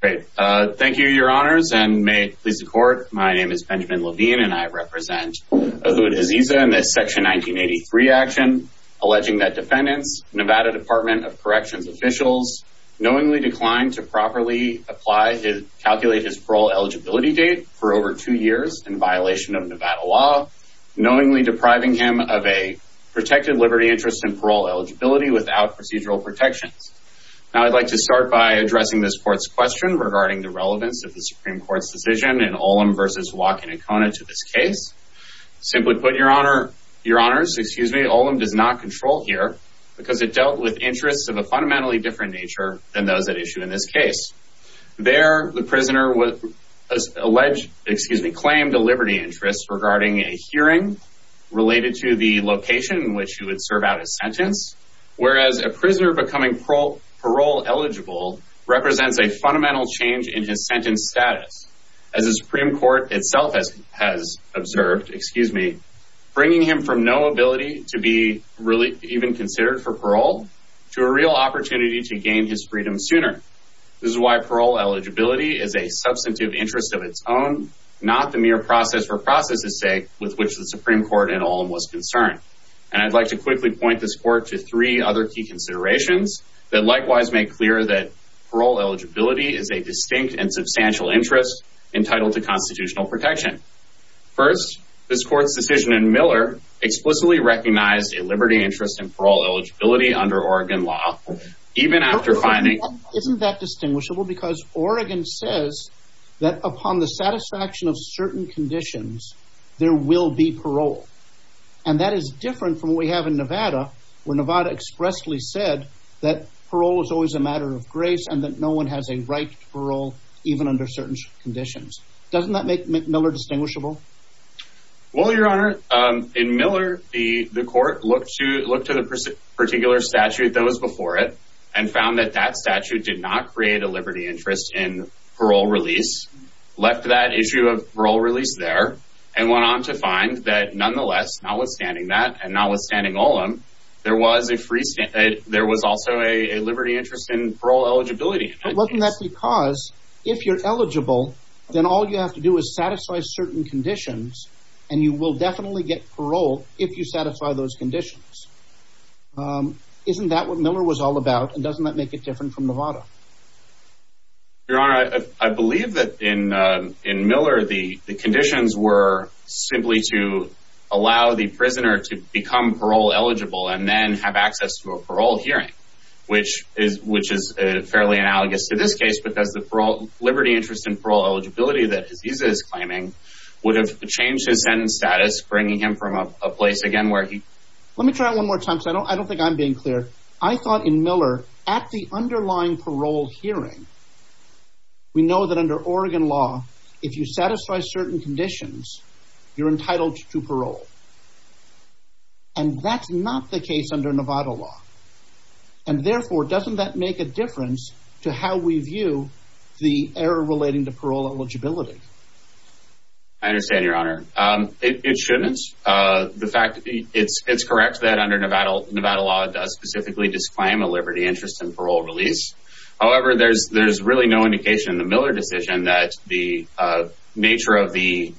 Thank you, Your Honors, and may it please the Court, my name is Benjamin Levine and I represent Ahud Chaziza in this Section 1983 action alleging that defendants, Nevada Department of Corrections officials, knowingly declined to properly calculate his parole eligibility date for over two years in violation of Nevada law, knowingly depriving him of a protected liberty interest and parole eligibility without procedural protections. I'd like to start by addressing this Court's question regarding the relevance of the Supreme Court's decision in Olam v. Wakinakona to this case. Simply put, Your Honors, Olam does not control here because it dealt with interests of a fundamentally different nature than those at issue in this case. There, the prisoner claimed a liberty interest regarding a hearing related to the location in which he would serve out a sentence, whereas a prisoner becoming parole eligible represents a fundamental change in his sentence status. As the Supreme Court itself has observed, bringing him from no ability to be even considered for parole to a real opportunity to gain his freedom sooner. This is why parole eligibility is a substantive interest of its own, not the mere process for process's sake with which the Supreme Court in other key considerations that likewise make clear that parole eligibility is a distinct and substantial interest entitled to constitutional protection. First, this Court's decision in Miller explicitly recognized a liberty interest in parole eligibility under Oregon law, even after finding... Isn't that distinguishable? Because Oregon says that upon the satisfaction of certain conditions, there will be parole. And that is different from what we have in Wesley said, that parole is always a matter of grace and that no one has a right to parole even under certain conditions. Doesn't that make Miller distinguishable? Well, Your Honor, in Miller, the Court looked to the particular statute that was before it and found that that statute did not create a liberty interest in parole release, left that issue of parole release there, and went on to find that nonetheless, notwithstanding that and notwithstanding Olam, there was a free... There was also a liberty interest in parole eligibility. But wasn't that because if you're eligible, then all you have to do is satisfy certain conditions and you will definitely get parole if you satisfy those conditions. Isn't that what Miller was all about? And doesn't that make it different from Novato? Your Honor, I believe that in Miller, the conditions were simply to allow the prisoner to become parole eligible and then have access to a parole hearing, which is fairly analogous to this case because the liberty interest in parole eligibility that Aziza is claiming would have changed his sentence status, bringing him from a place again where he... Let me try it one more time because I don't think I'm being clear. I thought in Miller, at the underlying parole hearing, we know that under Oregon law, if you satisfy certain conditions, you're entitled to parole. And that's not the case under Novato law. And therefore, doesn't that make a difference to how we view the error relating to parole eligibility? I understand, Your Honor. It shouldn't. The fact... It's correct that under Novato law, it does specifically disclaim a liberty interest in parole release. However, there's really no indication in the Miller decision that the nature of the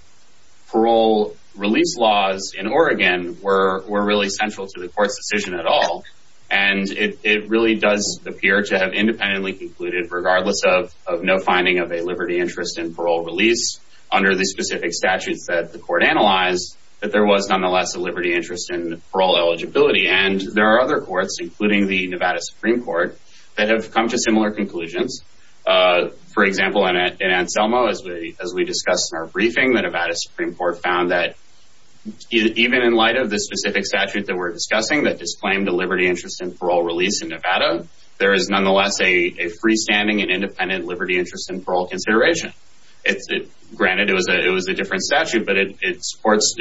parole release laws in Oregon were really central to the court's decision at all. And it really does appear to have independently concluded, regardless of no finding of a liberty interest in parole release under the specific statutes that the court analyzed, that there was nonetheless a liberty interest in parole eligibility. And there are other courts, including the Nevada Supreme Court, that have come to similar conclusions. For example, in Anselmo, as we discussed in our briefing, the Nevada Supreme Court found that even in light of the specific statute that we're discussing that disclaimed the liberty interest in parole release in Nevada, there is nonetheless a freestanding and independent liberty interest in parole consideration. Granted, it was a different statute, but it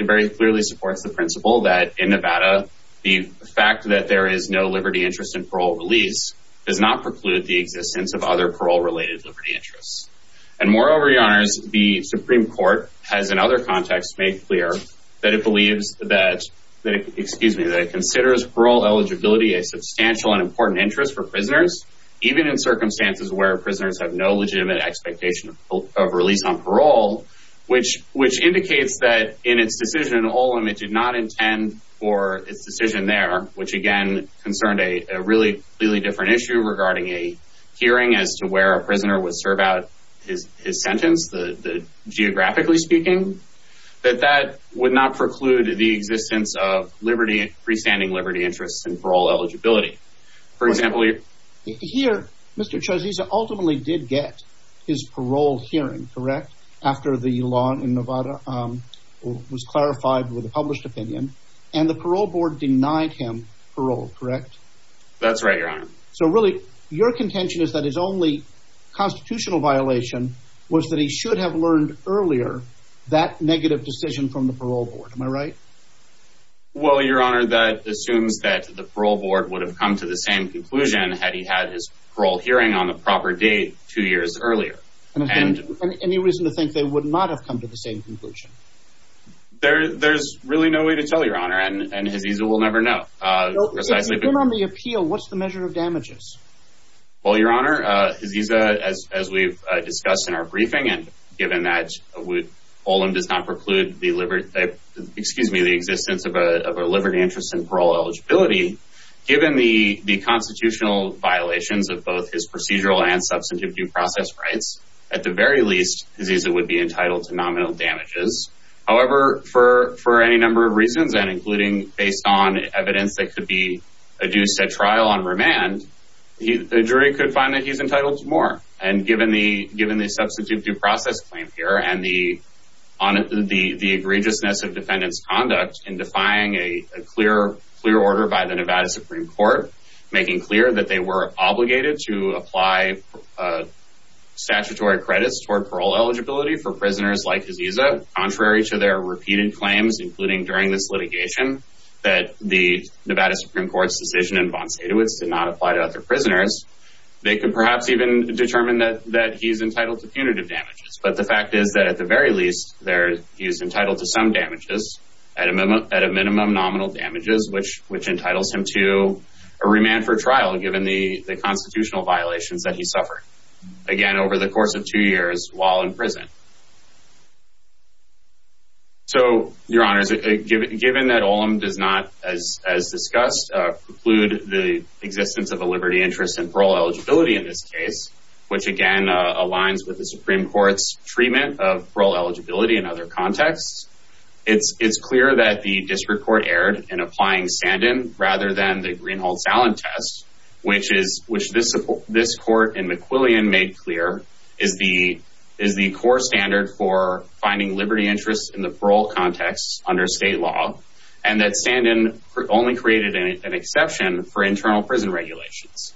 very clearly supports the principle that in Nevada, the fact that there is no liberty interest in parole release does not preclude the existence of other parole-related liberty interests. And moreover, Your Honors, the Supreme Court has, in other contexts, made clear that it believes that, excuse me, that it considers parole eligibility a substantial and important interest for prisoners, even in circumstances where prisoners have no legitimate expectation of release on parole, which indicates that in its decision in Olin, it did not make a hearing as to where a prisoner would serve out his sentence, geographically speaking, that that would not preclude the existence of freestanding liberty interests in parole eligibility. For example, here, Mr. Chorzisa ultimately did get his parole hearing, correct, after the law in Nevada was clarified with a published opinion, and the parole board denied him parole, correct? That's right, Your Honor. So really, your contention is that his only constitutional violation was that he should have learned earlier that negative decision from the parole board, am I right? Well, Your Honor, that assumes that the parole board would have come to the same conclusion had he had his parole hearing on the proper date two years earlier. And any reason to think they would not have come to the same conclusion? There's really no way to tell, Your Honor, and his easel will never know. Precisely on the appeal, what's the measure of damages? Well, Your Honor, as we've discussed in our briefing, and given that Olin does not preclude the liberty, excuse me, the existence of a liberty interest in parole eligibility, given the constitutional violations of both his procedural and substantive due process rights, at the extent that it could be a due set trial on remand, the jury could find that he's entitled to more. And given the substantive due process claim here, and the egregiousness of defendant's conduct in defying a clear order by the Nevada Supreme Court, making clear that they were obligated to apply statutory credits toward parole eligibility for prisoners like Aziza, contrary to their repeated claims, including during this litigation, that the Nevada Supreme Court's decision in von Sadowitz did not apply to other prisoners, they could perhaps even determine that he's entitled to punitive damages. But the fact is that at the very least, he's entitled to some damages, at a minimum nominal damages, which entitles him to a remand for trial, given the constitutional violations that he suffered, again, over the course of two years while in prison. So, Your Honors, given that Olam does not, as discussed, preclude the existence of a liberty interest in parole eligibility in this case, which again, aligns with the Supreme Court's treatment of parole eligibility in other contexts, it's clear that the district court erred in applying Sandin rather than the parole context under state law, and that Sandin only created an exception for internal prison regulations.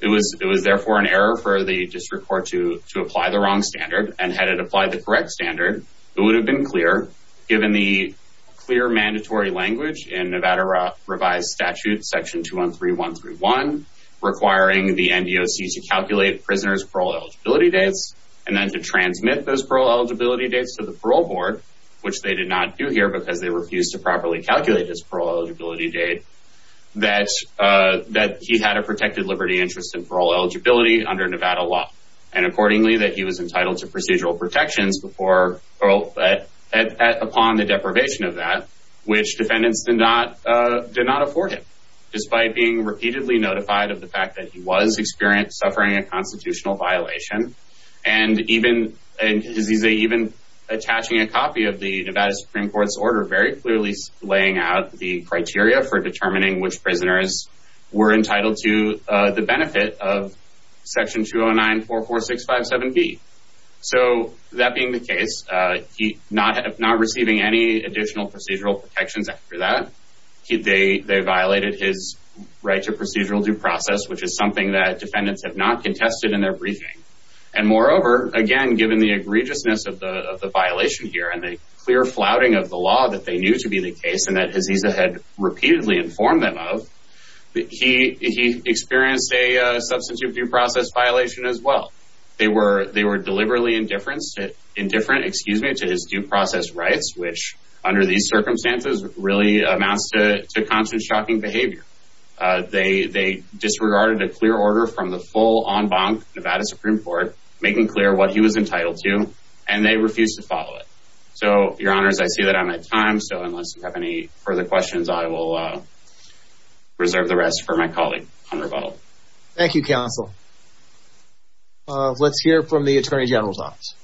It was therefore an error for the district court to apply the wrong standard, and had it applied the correct standard, it would have been clear, given the clear mandatory language in Nevada Revised Statute Section 213131, requiring the NDOC to calculate prisoners' parole eligibility dates, and then to transmit those parole eligibility dates to the parole board, which they did not do here because they refused to properly calculate his parole eligibility date, that he had a protected liberty interest in parole eligibility under Nevada law, and accordingly, that he was entitled to procedural protections before, or upon the deprivation of that, which defendants did not afford him, despite being repeatedly notified of the fact that he was experienced suffering a constitutional violation, and even attaching a copy of the Nevada Supreme Court's order, very clearly laying out the criteria for determining which prisoners were entitled to the benefit of Section 20944657B. So that being the case, he not receiving any additional procedural protections after that, they violated his right to And moreover, again, given the egregiousness of the violation here, and the clear flouting of the law that they knew to be the case, and that Aziza had repeatedly informed them of, he experienced a substantive due process violation as well. They were deliberately indifferent to his due process rights, which under these Supreme Court, making clear what he was entitled to, and they refused to follow it. So your honors, I see that I'm at time. So unless you have any further questions, I will reserve the rest for my colleague on rebuttal. Thank you, counsel. Let's hear from the Attorney General's office.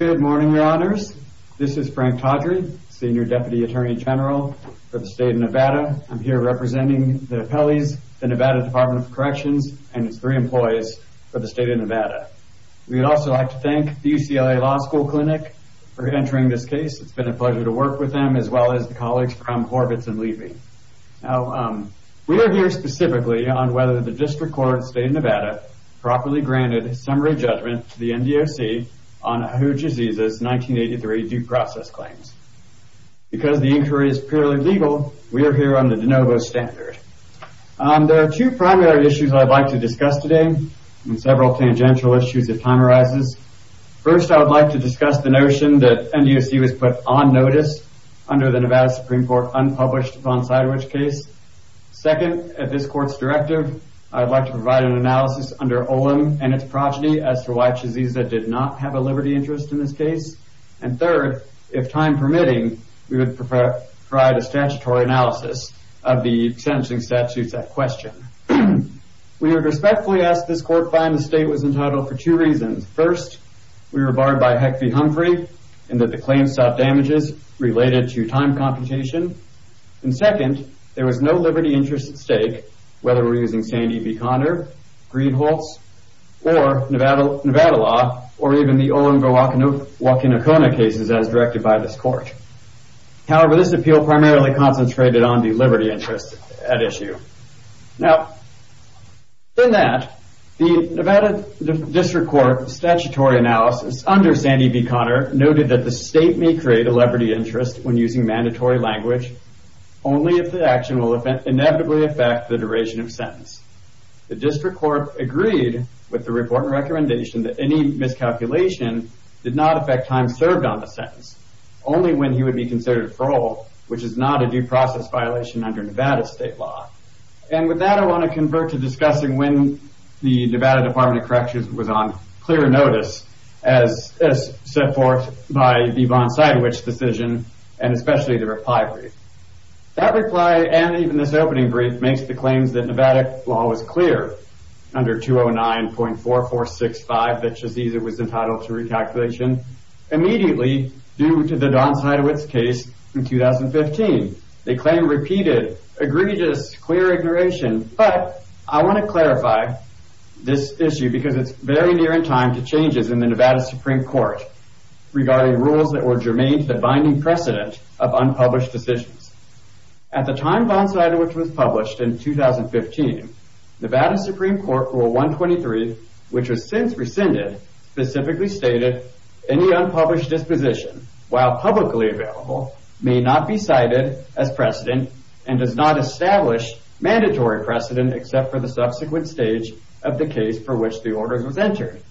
Good morning, your honors. This is Frank Tawdry, Senior Deputy Attorney General for the state of Nevada. I'm here representing the appellees, the Nevada Department of Corrections, and its three employees for the state of Nevada. We'd also like to thank the UCLA Law School Clinic for entering this case. It's been a pleasure to work with you. I've worked with them, as well as the colleagues from Horvitz and Levy. Now, we are here specifically on whether the district court in the state of Nevada properly granted a summary judgment to the NDOC on Ahuja Aziza's 1983 due process claims. Because the inquiry is purely legal, we are here on the DeNovo standard. There are two primary issues I'd like to discuss today, and several tangential issues if time arises. First, I would like to discuss the notion that NDOC was put on notice under the Nevada Supreme Court unpublished Von Seidrich case. Second, at this court's directive, I'd like to provide an analysis under Olin and its progeny as to why Aziza did not have a liberty interest in this case. And third, if time permitting, we would provide a statutory analysis of the sentencing statutes at question. We are respectfully asked this court find the state was entitled for two reasons. First, we were barred by Heck v. Humphrey in that the claims sought damages related to time computation. And second, there was no liberty interest at stake, whether we were using Sandy v. Conner, Greenholtz, or Nevada law, or even the Olin v. Wakinakona cases as directed by this court. However, this appeal primarily concentrated on the liberty interest at issue. Now, in that, the Nevada district court statutory analysis under Sandy v. Conner noted that the state may inevitably affect the duration of sentence. The district court agreed with the report and recommendation that any miscalculation did not affect time served on the sentence, only when he would be considered for all, which is not a due process violation under Nevada state law. And with that, I want to convert to discussing when the Nevada Department of Justice, in this opening brief, makes the claims that Nevada law was clear under 209.4465 that Shaziza was entitled to recalculation immediately due to the Donsidewitz case in 2015. They claim repeated egregious clear ignoration, but I want to clarify this issue because it's very near in time to changes in the Nevada Supreme Court regarding rules that were germane to the binding precedent of unpublished decisions. At the time Donsidewitz was published in 2015, Nevada Supreme Court Rule 123, which was since rescinded, specifically stated, any unpublished disposition, while publicly available, may not be cited as precedent and does not establish mandatory precedent except for the subsequent stage of the case for which the order was entered,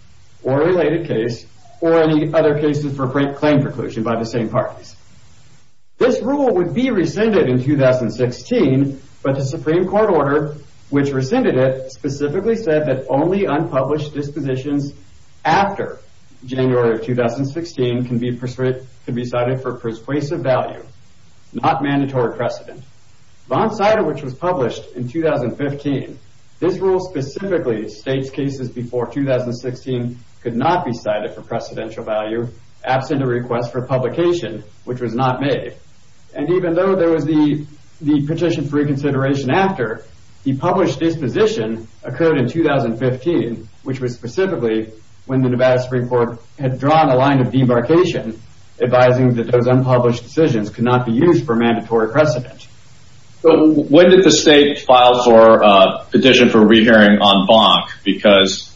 or related case, or any other cases for claim preclusion by the same parties. This rule would be rescinded in 2016, but the Supreme Court order which rescinded it specifically said that only unpublished dispositions after January of 2016 can be cited for persuasive value, not mandatory precedent. Donsidewitz was published in 2015. This rule specifically states cases before 2016 could not be cited for precedential value absent a request for publication, which was not made. And even though there was the petition for reconsideration after, the published disposition occurred in 2015, which was specifically when the Nevada Supreme Court had drawn a line of debarkation advising that those unpublished decisions could not be used for mandatory precedent. So when did the state file for a petition for rehearing on Bonk? Because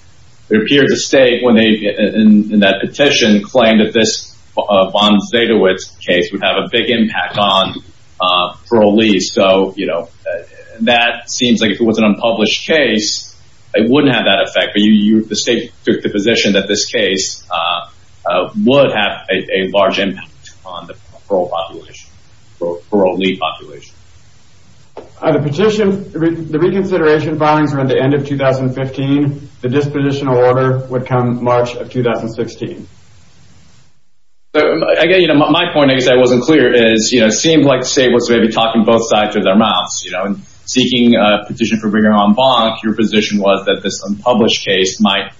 it appeared to state when they, in that petition, claimed that this Donsidewitz case would have a big impact on parolees. So, you know, that seems like if it was an unpublished case, it wouldn't have that effect, but the state took the position that this case would have a large impact on the parole population, parolee population. The petition, the reconsideration filings were at the end of 2015. The dispositional order would come March of 2016. Again, you know, my point is I wasn't clear is, you know, it seems like the state was maybe talking both sides of their mouths, you know, and seeking a petition for bringing on Bonk, your position was that this unpublished case might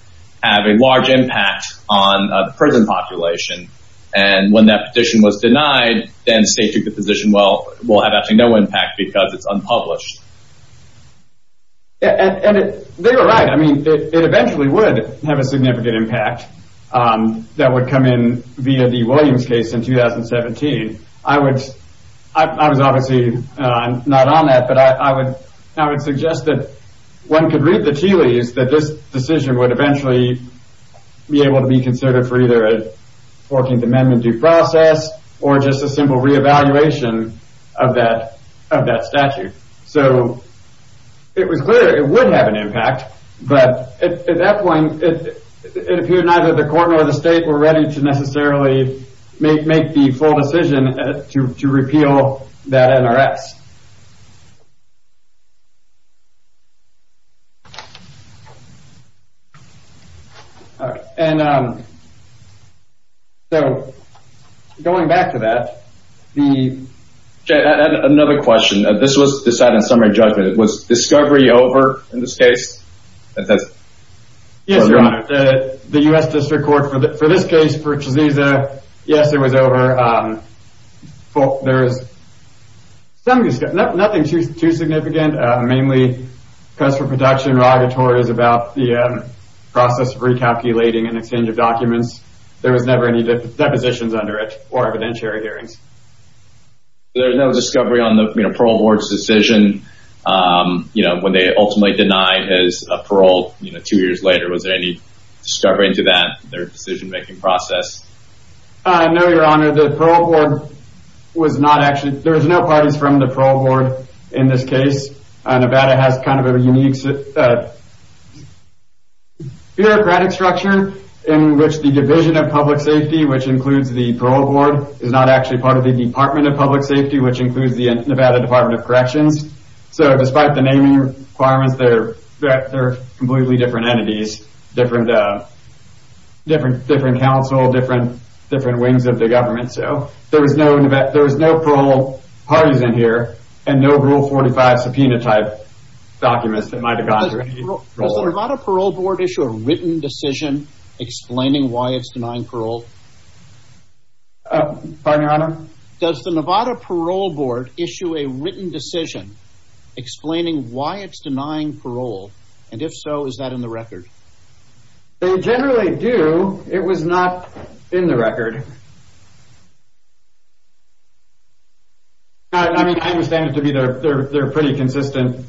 have a large impact on prison population. And when that petition was denied, then state took the position, well, we'll have actually no impact because it's unpublished. And they were right. I mean, it eventually would have a significant impact that would come in via the Williams case in 2017. I would, I was obviously not on that, but I would, I would suggest that one could read the tea leaves that this decision would eventually be able to be considered for either a 14th Amendment due process or just a simple reevaluation of that, of that statute. So it was clear it would have an impact, but at that point, it appeared neither the court nor the state were ready to necessarily make the full decision to repeal that NRS. All right. And so going back to that, the... Another question. This was decided in summary judgment. Was discovery over in this case? Yes, Your Honor. The U.S. District Court for this case, for Chiziza, yes, it was over. There is nothing too significant, mainly press for production or auditories about the process of recalculating and exchange of documents. There was never any depositions under it or evidentiary hearings. There was no discovery on the parole board's decision, you know, when they ultimately denied his parole, you know, two years later. Was there any discovery into that, their decision-making process? No, Your Honor. The parole board was not actually... There was no parties from the parole board in this case. Nevada has kind of a unique bureaucratic structure in which the Division of Public Safety, which includes the parole board, is not actually part of the Department of Public Safety, which includes the Nevada Department of Corrections. So despite the naming requirements, they're completely different entities, different counsel, different wings of the government. So there was no parole parties in here and no Rule 45 subpoena type documents that might have gone through. Does the Nevada parole board issue a written decision explaining why it's denying parole? Pardon, Your Honor? Does the Nevada parole board issue a written decision explaining why it's denying parole? And if so, is that in the record? They generally do. It was not in the record. I mean, I understand it to be their pretty consistent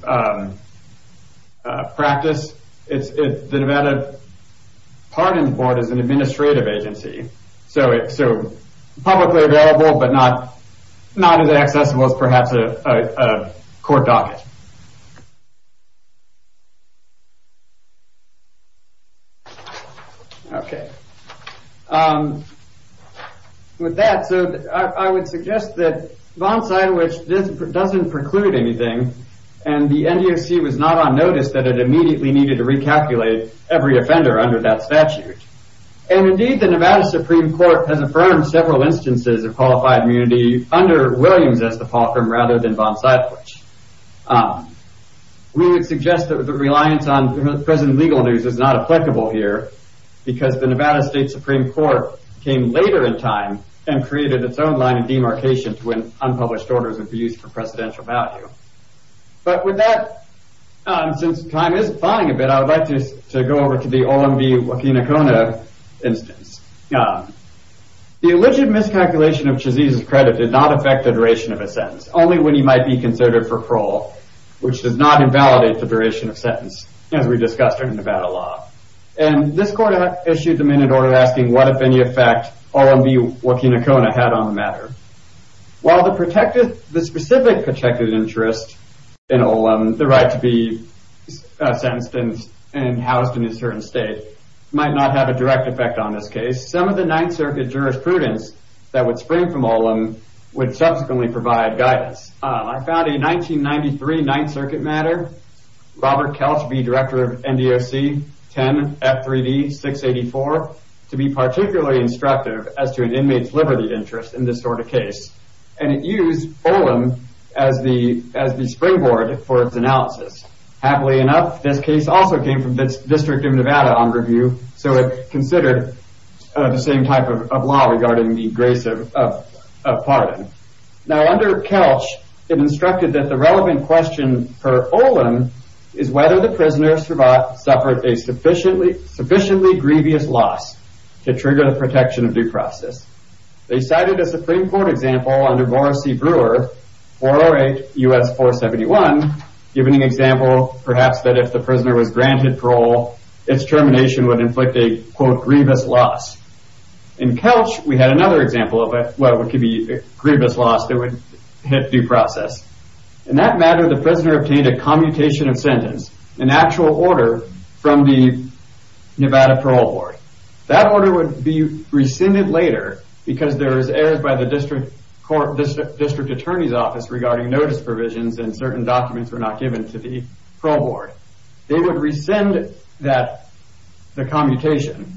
practice. The Nevada Pardons Board is an administrative agency. So publicly available, but not as accessible as perhaps a court docket. With that, I would suggest that Vonside, which doesn't preclude anything, and the NDOC was not on notice that it immediately needed to recalculate every offender under that statute. And indeed, the Nevada Supreme Court has affirmed several instances of qualified immunity under Williams as the fall firm rather than Vonside. We would suggest that the reliance on present legal news is not applicable here because the Nevada State Supreme Court came later in time and created its own line of demarcation when unpublished orders would be used for presidential value. But with that, since time is flying a bit, I would like to go over to the O.M.V. Wakinakona instance. The alleged miscalculation of Chezise's credit did not affect the duration of a sentence, only when he might be considered for parole, which does not invalidate the duration of a sentence, as we discussed in the Nevada law. And this court issued the minute order asking what, if any, effect O.M.V. Wakinakona had on the matter. While the specific protected interest in O.M., the right to be sentenced and housed in a certain state, might not have a direct effect on this case, some of the Ninth Circuit jurisprudence that would spring from O.M. would subsequently provide guidance. I found a 1993 Ninth Circuit matter, Robert Kelch v. Director of NDOC, 10 F.3.D. 684, to be particularly instructive as to an inmate's liberty interest in this sort of case. And it used O.M. as the springboard for its analysis. Happily enough, this case also came from the District of Nevada on review, so it considered the same type of law regarding the grace of pardon. Now, under Kelch, it instructed that the relevant question per O.M. is whether the prisoner suffered a sufficiently grievous loss to trigger the protection of due process. They cited a Supreme Court example under Morrissey Brewer, 408 U.S. 471, giving an example, perhaps, that if the prisoner was granted parole, its termination would inflict a, quote, grievous loss. In Kelch, we had another example of what could be a grievous loss that would hit due process. In that matter, the prisoner obtained a commutation of sentence, an actual order from the Nevada Parole Board. That order would be rescinded later because there was errors by the District Attorney's Office regarding notice provisions and certain documents were not given to the parole board. They would rescind the commutation.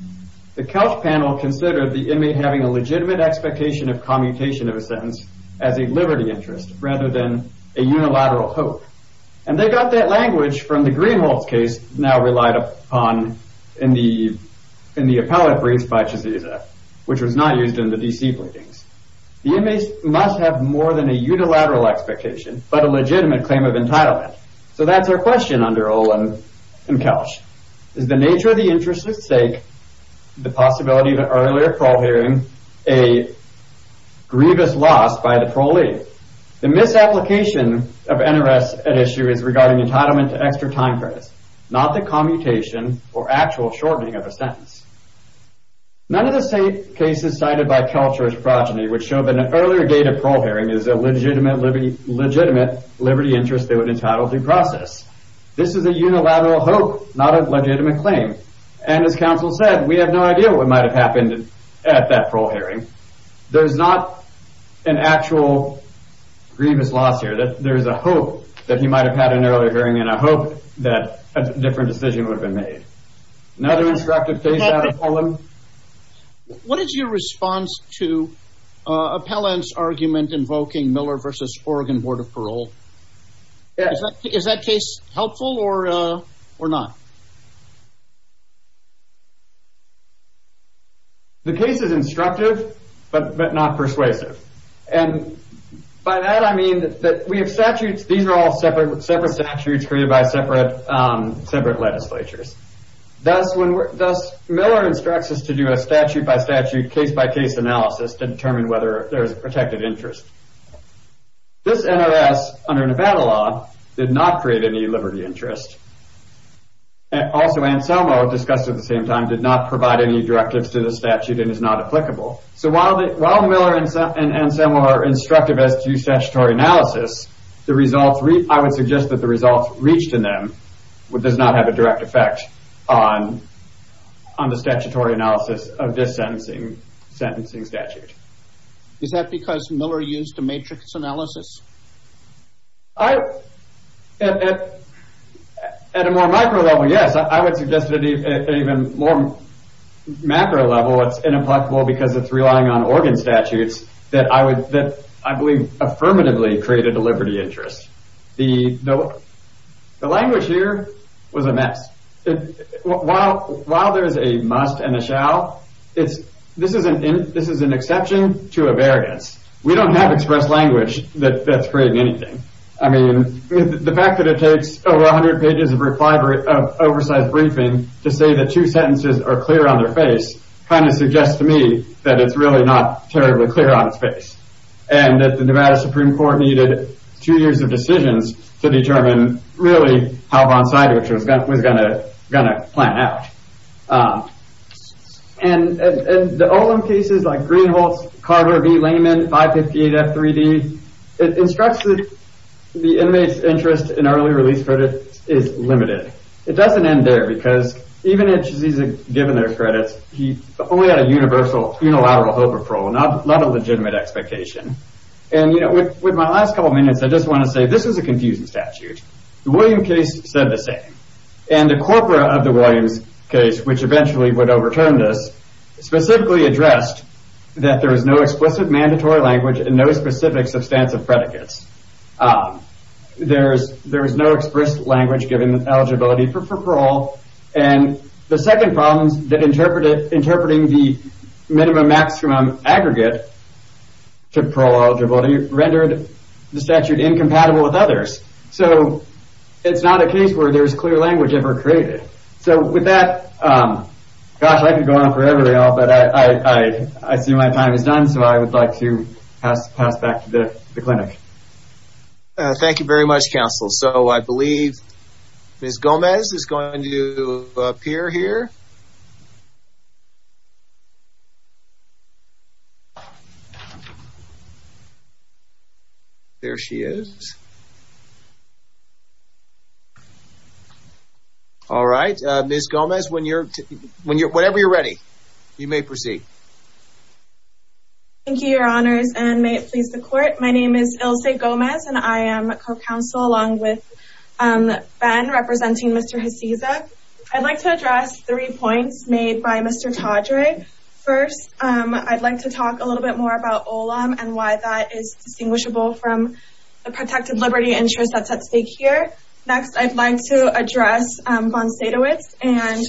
The Kelch panel considered the inmate having a legitimate expectation of commutation of a sentence as a liberty interest rather than a unilateral hope. And they got that language from the Greenhold case now relied upon in the appellate briefs by Chiziza, which was not used in the D.C. pleadings. The inmates must have more than a unilateral expectation but a legitimate claim of entitlement. So that's our question under O.M. and Kelch. Is the nature of the interest at stake, the possibility of an earlier parole hearing, a grievous loss by the parolee? The misapplication of interest at issue is regarding entitlement to extra time credits, not the commutation or actual shortening of a sentence. None of the cases cited by Kelch or his progeny would show that an earlier date of parole hearing is a legitimate liberty interest that would entitle due process. This is a unilateral hope, not a legitimate claim. And as counsel said, we have no idea what might have happened at that parole hearing. There's not an actual grievous loss here. There's a hope that he might have had an earlier hearing, and a hope that a different decision would have been made. Another instructive case out of Pelham? What is your response to Appellant's argument invoking Miller v. Oregon Board of Parole? Is that case helpful or not? The case is instructive but not persuasive. And by that I mean that we have statutes. These are all separate statutes created by separate legislatures. Thus, Miller instructs us to do a statute-by-statute, case-by-case analysis to determine whether there is a protected interest. This NRS, under Nevada law, did not create any liberty interest. Also, Anselmo, discussed at the same time, did not provide any directives to the statute and is not applicable. So while Miller and Anselmo are instructive as to statutory analysis, I would suggest that the results reached in them does not have a direct effect on the statutory analysis of this sentencing statute. Is that because Miller used a matrix analysis? At a more macro level, yes. I would suggest that at an even more macro level, it's inapplicable because it's relying on Oregon statutes that I believe affirmatively created a liberty interest. The language here was a mess. While there is a must and a shall, this is an exception to a variance. We don't have express language that's creating anything. I mean, the fact that it takes over 100 pages of oversized briefing to say that two sentences are clear on their face kind of suggests to me that it's really not terribly clear on its face and that the Nevada Supreme Court needed two years of decisions to determine really how Von Seidrich was going to plan out. And the Olin cases like Greenholz, Carver, V. Lehman, 558F3D, it instructs that the inmate's interest in early release credits is limited. It doesn't end there because even if he's given their credits, he only had a unilateral hope of parole, not a legitimate expectation. And with my last couple of minutes, I just want to say that this is a confusing statute. The Williams case said the same. And the corpora of the Williams case, which eventually would overturn this, specifically addressed that there is no explicit mandatory language and no specific substantive predicates. There is no express language giving eligibility for parole. And the second problem is that interpreting the minimum-maximum aggregate to parole eligibility rendered the statute incompatible with others. So it's not a case where there's clear language ever created. So with that, gosh, I could go on forever now, but I see my time is done, so I would like to pass back to the clinic. Thank you very much, counsel. So I believe Ms. Gomez is going to appear here. There she is. All right. Ms. Gomez, whenever you're ready, you may proceed. Thank you, Your Honors, and may it please the Court. My name is Ilse Gomez, and I am a co-counsel along with Ben, representing Mr. Hasiza. I'd like to address three points made by Mr. Todry. First, I'd like to talk a little bit more about Olam and why that is distinguishable from the protected liberty interest that's at stake here. Next, I'd like to address Bonsaitovitz and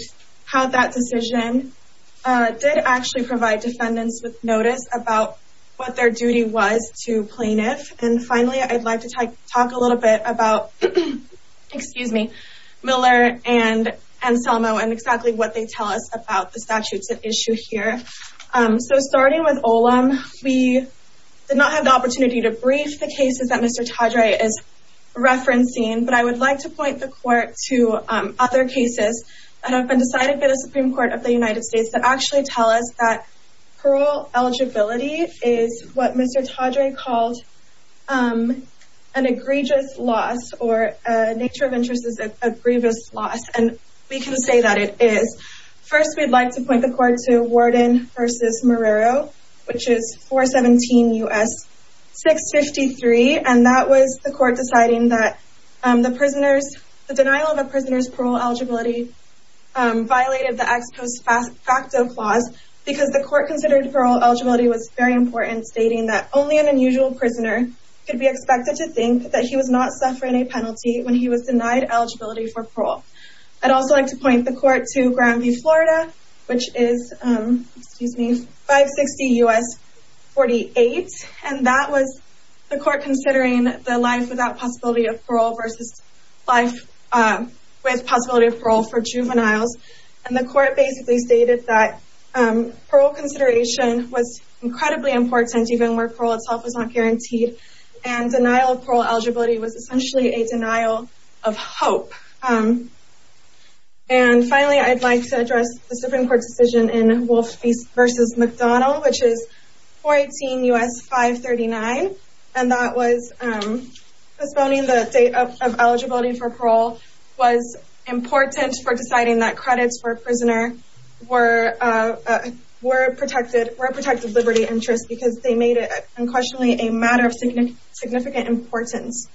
how that decision did actually provide defendants with notice about what their duty was to plaintiff. And finally, I'd like to talk a little bit about Miller and Selma and exactly what they tell us about the statutes at issue here. So starting with Olam, we did not have the opportunity to brief the cases that Mr. Todry is referencing, but I would like to point the Court to other cases that have been decided by the Supreme Court of the United States that actually tell us that parole eligibility is what Mr. Todry called an egregious loss, or a nature of interest is an egregious loss, and we can say that it is. First, we'd like to point the Court to Warden v. Morero, which is 417 U.S. 653, and that was the Court deciding that the denial of a prisoner's parole eligibility violated the ex post facto clause because the Court considered parole eligibility was very important, stating that only an unusual prisoner could be expected to think that he was not suffering a penalty when he was denied eligibility for parole. I'd also like to point the Court to Grandview, Florida, which is 560 U.S. 48, and that was the Court considering the life without possibility of parole versus life with possibility of parole for juveniles, and the Court basically stated that parole consideration was incredibly important, even where parole itself was not guaranteed, and denial of parole eligibility was essentially a denial of hope. And finally, I'd like to address the Supreme Court decision in Wolf v. McDonnell, which is 418 U.S. 539, and that was postponing the date of eligibility for parole was important for deciding that credits for a prisoner were a protected liberty interest because they made it unquestionably a matter of significant importance.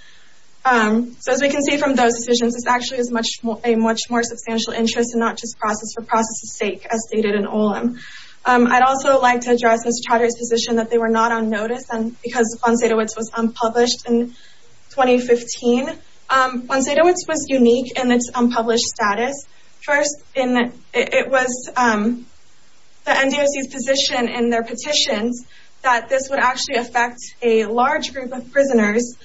So as we can see from those decisions, it's actually a much more substantial interest and not just a process for process's sake, as stated in Olim. I'd also like to address Mr. Chowdhury's position that they were not on notice because Fonseca Woods was unpublished in 2015. Fonseca Woods was unique in its unpublished status. First, it was the NDOC's position in their petitions that this would actually affect a large group of prisoners,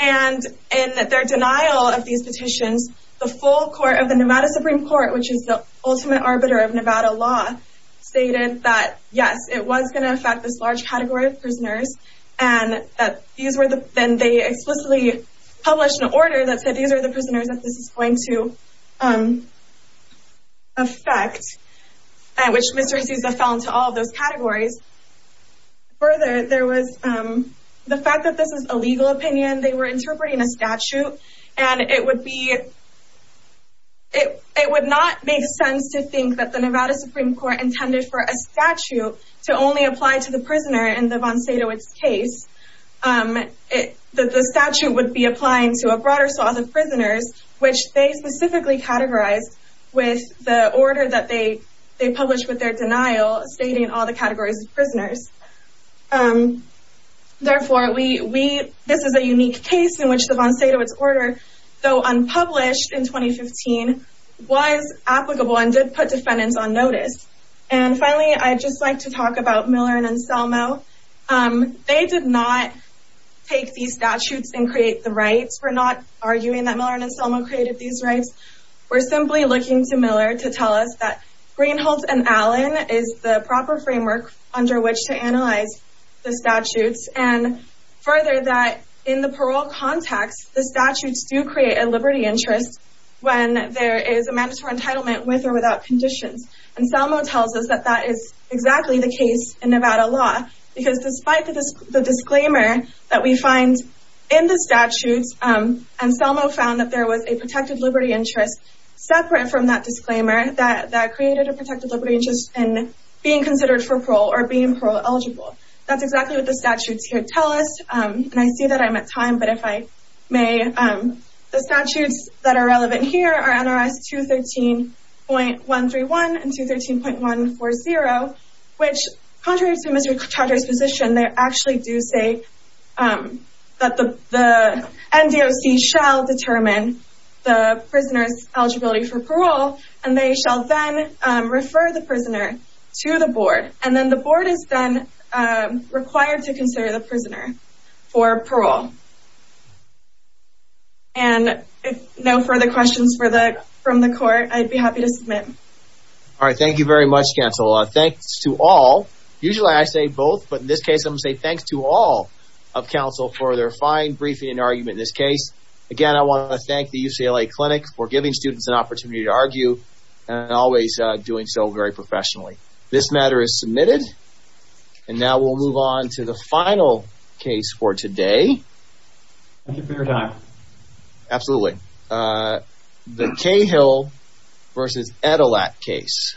and in their denial of these petitions, the full court of the Nevada Supreme Court, which is the ultimate arbiter of Nevada law, stated that, yes, it was going to affect this large category of prisoners, and then they explicitly published an order that said these are the prisoners that this is going to affect, which Mr. Azusa fell into all of those categories. Further, the fact that this is a legal opinion, they were interpreting a statute, and it would not make sense to think that the Nevada Supreme Court intended for a statute to only apply to the prisoner in the Fonseca Woods case. The statute would be applying to a broader swath of prisoners, which they specifically categorized with the order that they published with their denial, stating all the categories of prisoners. Therefore, this is a unique case in which the Fonseca Woods order, though unpublished in 2015, was applicable and did put defendants on notice. And finally, I'd just like to talk about Miller and Anselmo. They did not take these statutes and create the rights. We're not arguing that Miller and Anselmo created these rights. We're simply looking to Miller to tell us that Greenholtz and Allen is the proper framework under which to analyze the statutes, and further, that in the parole context, the statutes do create a liberty interest when there is a mandatory entitlement with or without conditions. Anselmo tells us that that is exactly the case in Nevada law, because despite the disclaimer that we find in the statutes, Anselmo found that there was a protected liberty interest separate from that disclaimer that created a protected liberty interest in being considered for parole or being parole eligible. That's exactly what the statutes here tell us. And I see that I'm at time, but if I may, the statutes that are relevant here are NRS 213.131 and 213.140, which, contrary to Mr. Chaudry's position, they actually do say that the NDOC shall determine the prisoner's eligibility for parole, and they shall then refer the prisoner to the board. And then the board is then required to consider the prisoner for parole. And if no further questions from the court, I'd be happy to submit. All right, thank you very much, counsel. Thanks to all, usually I say both, but in this case, I'm going to say thanks to all of counsel for their fine briefing and argument in this case. Again, I want to thank the UCLA Clinic for giving students an opportunity to argue and always doing so very professionally. This matter is submitted, and now we'll move on to the final case for today. Thank you for your time. Absolutely. The Cahill v. Etelat case.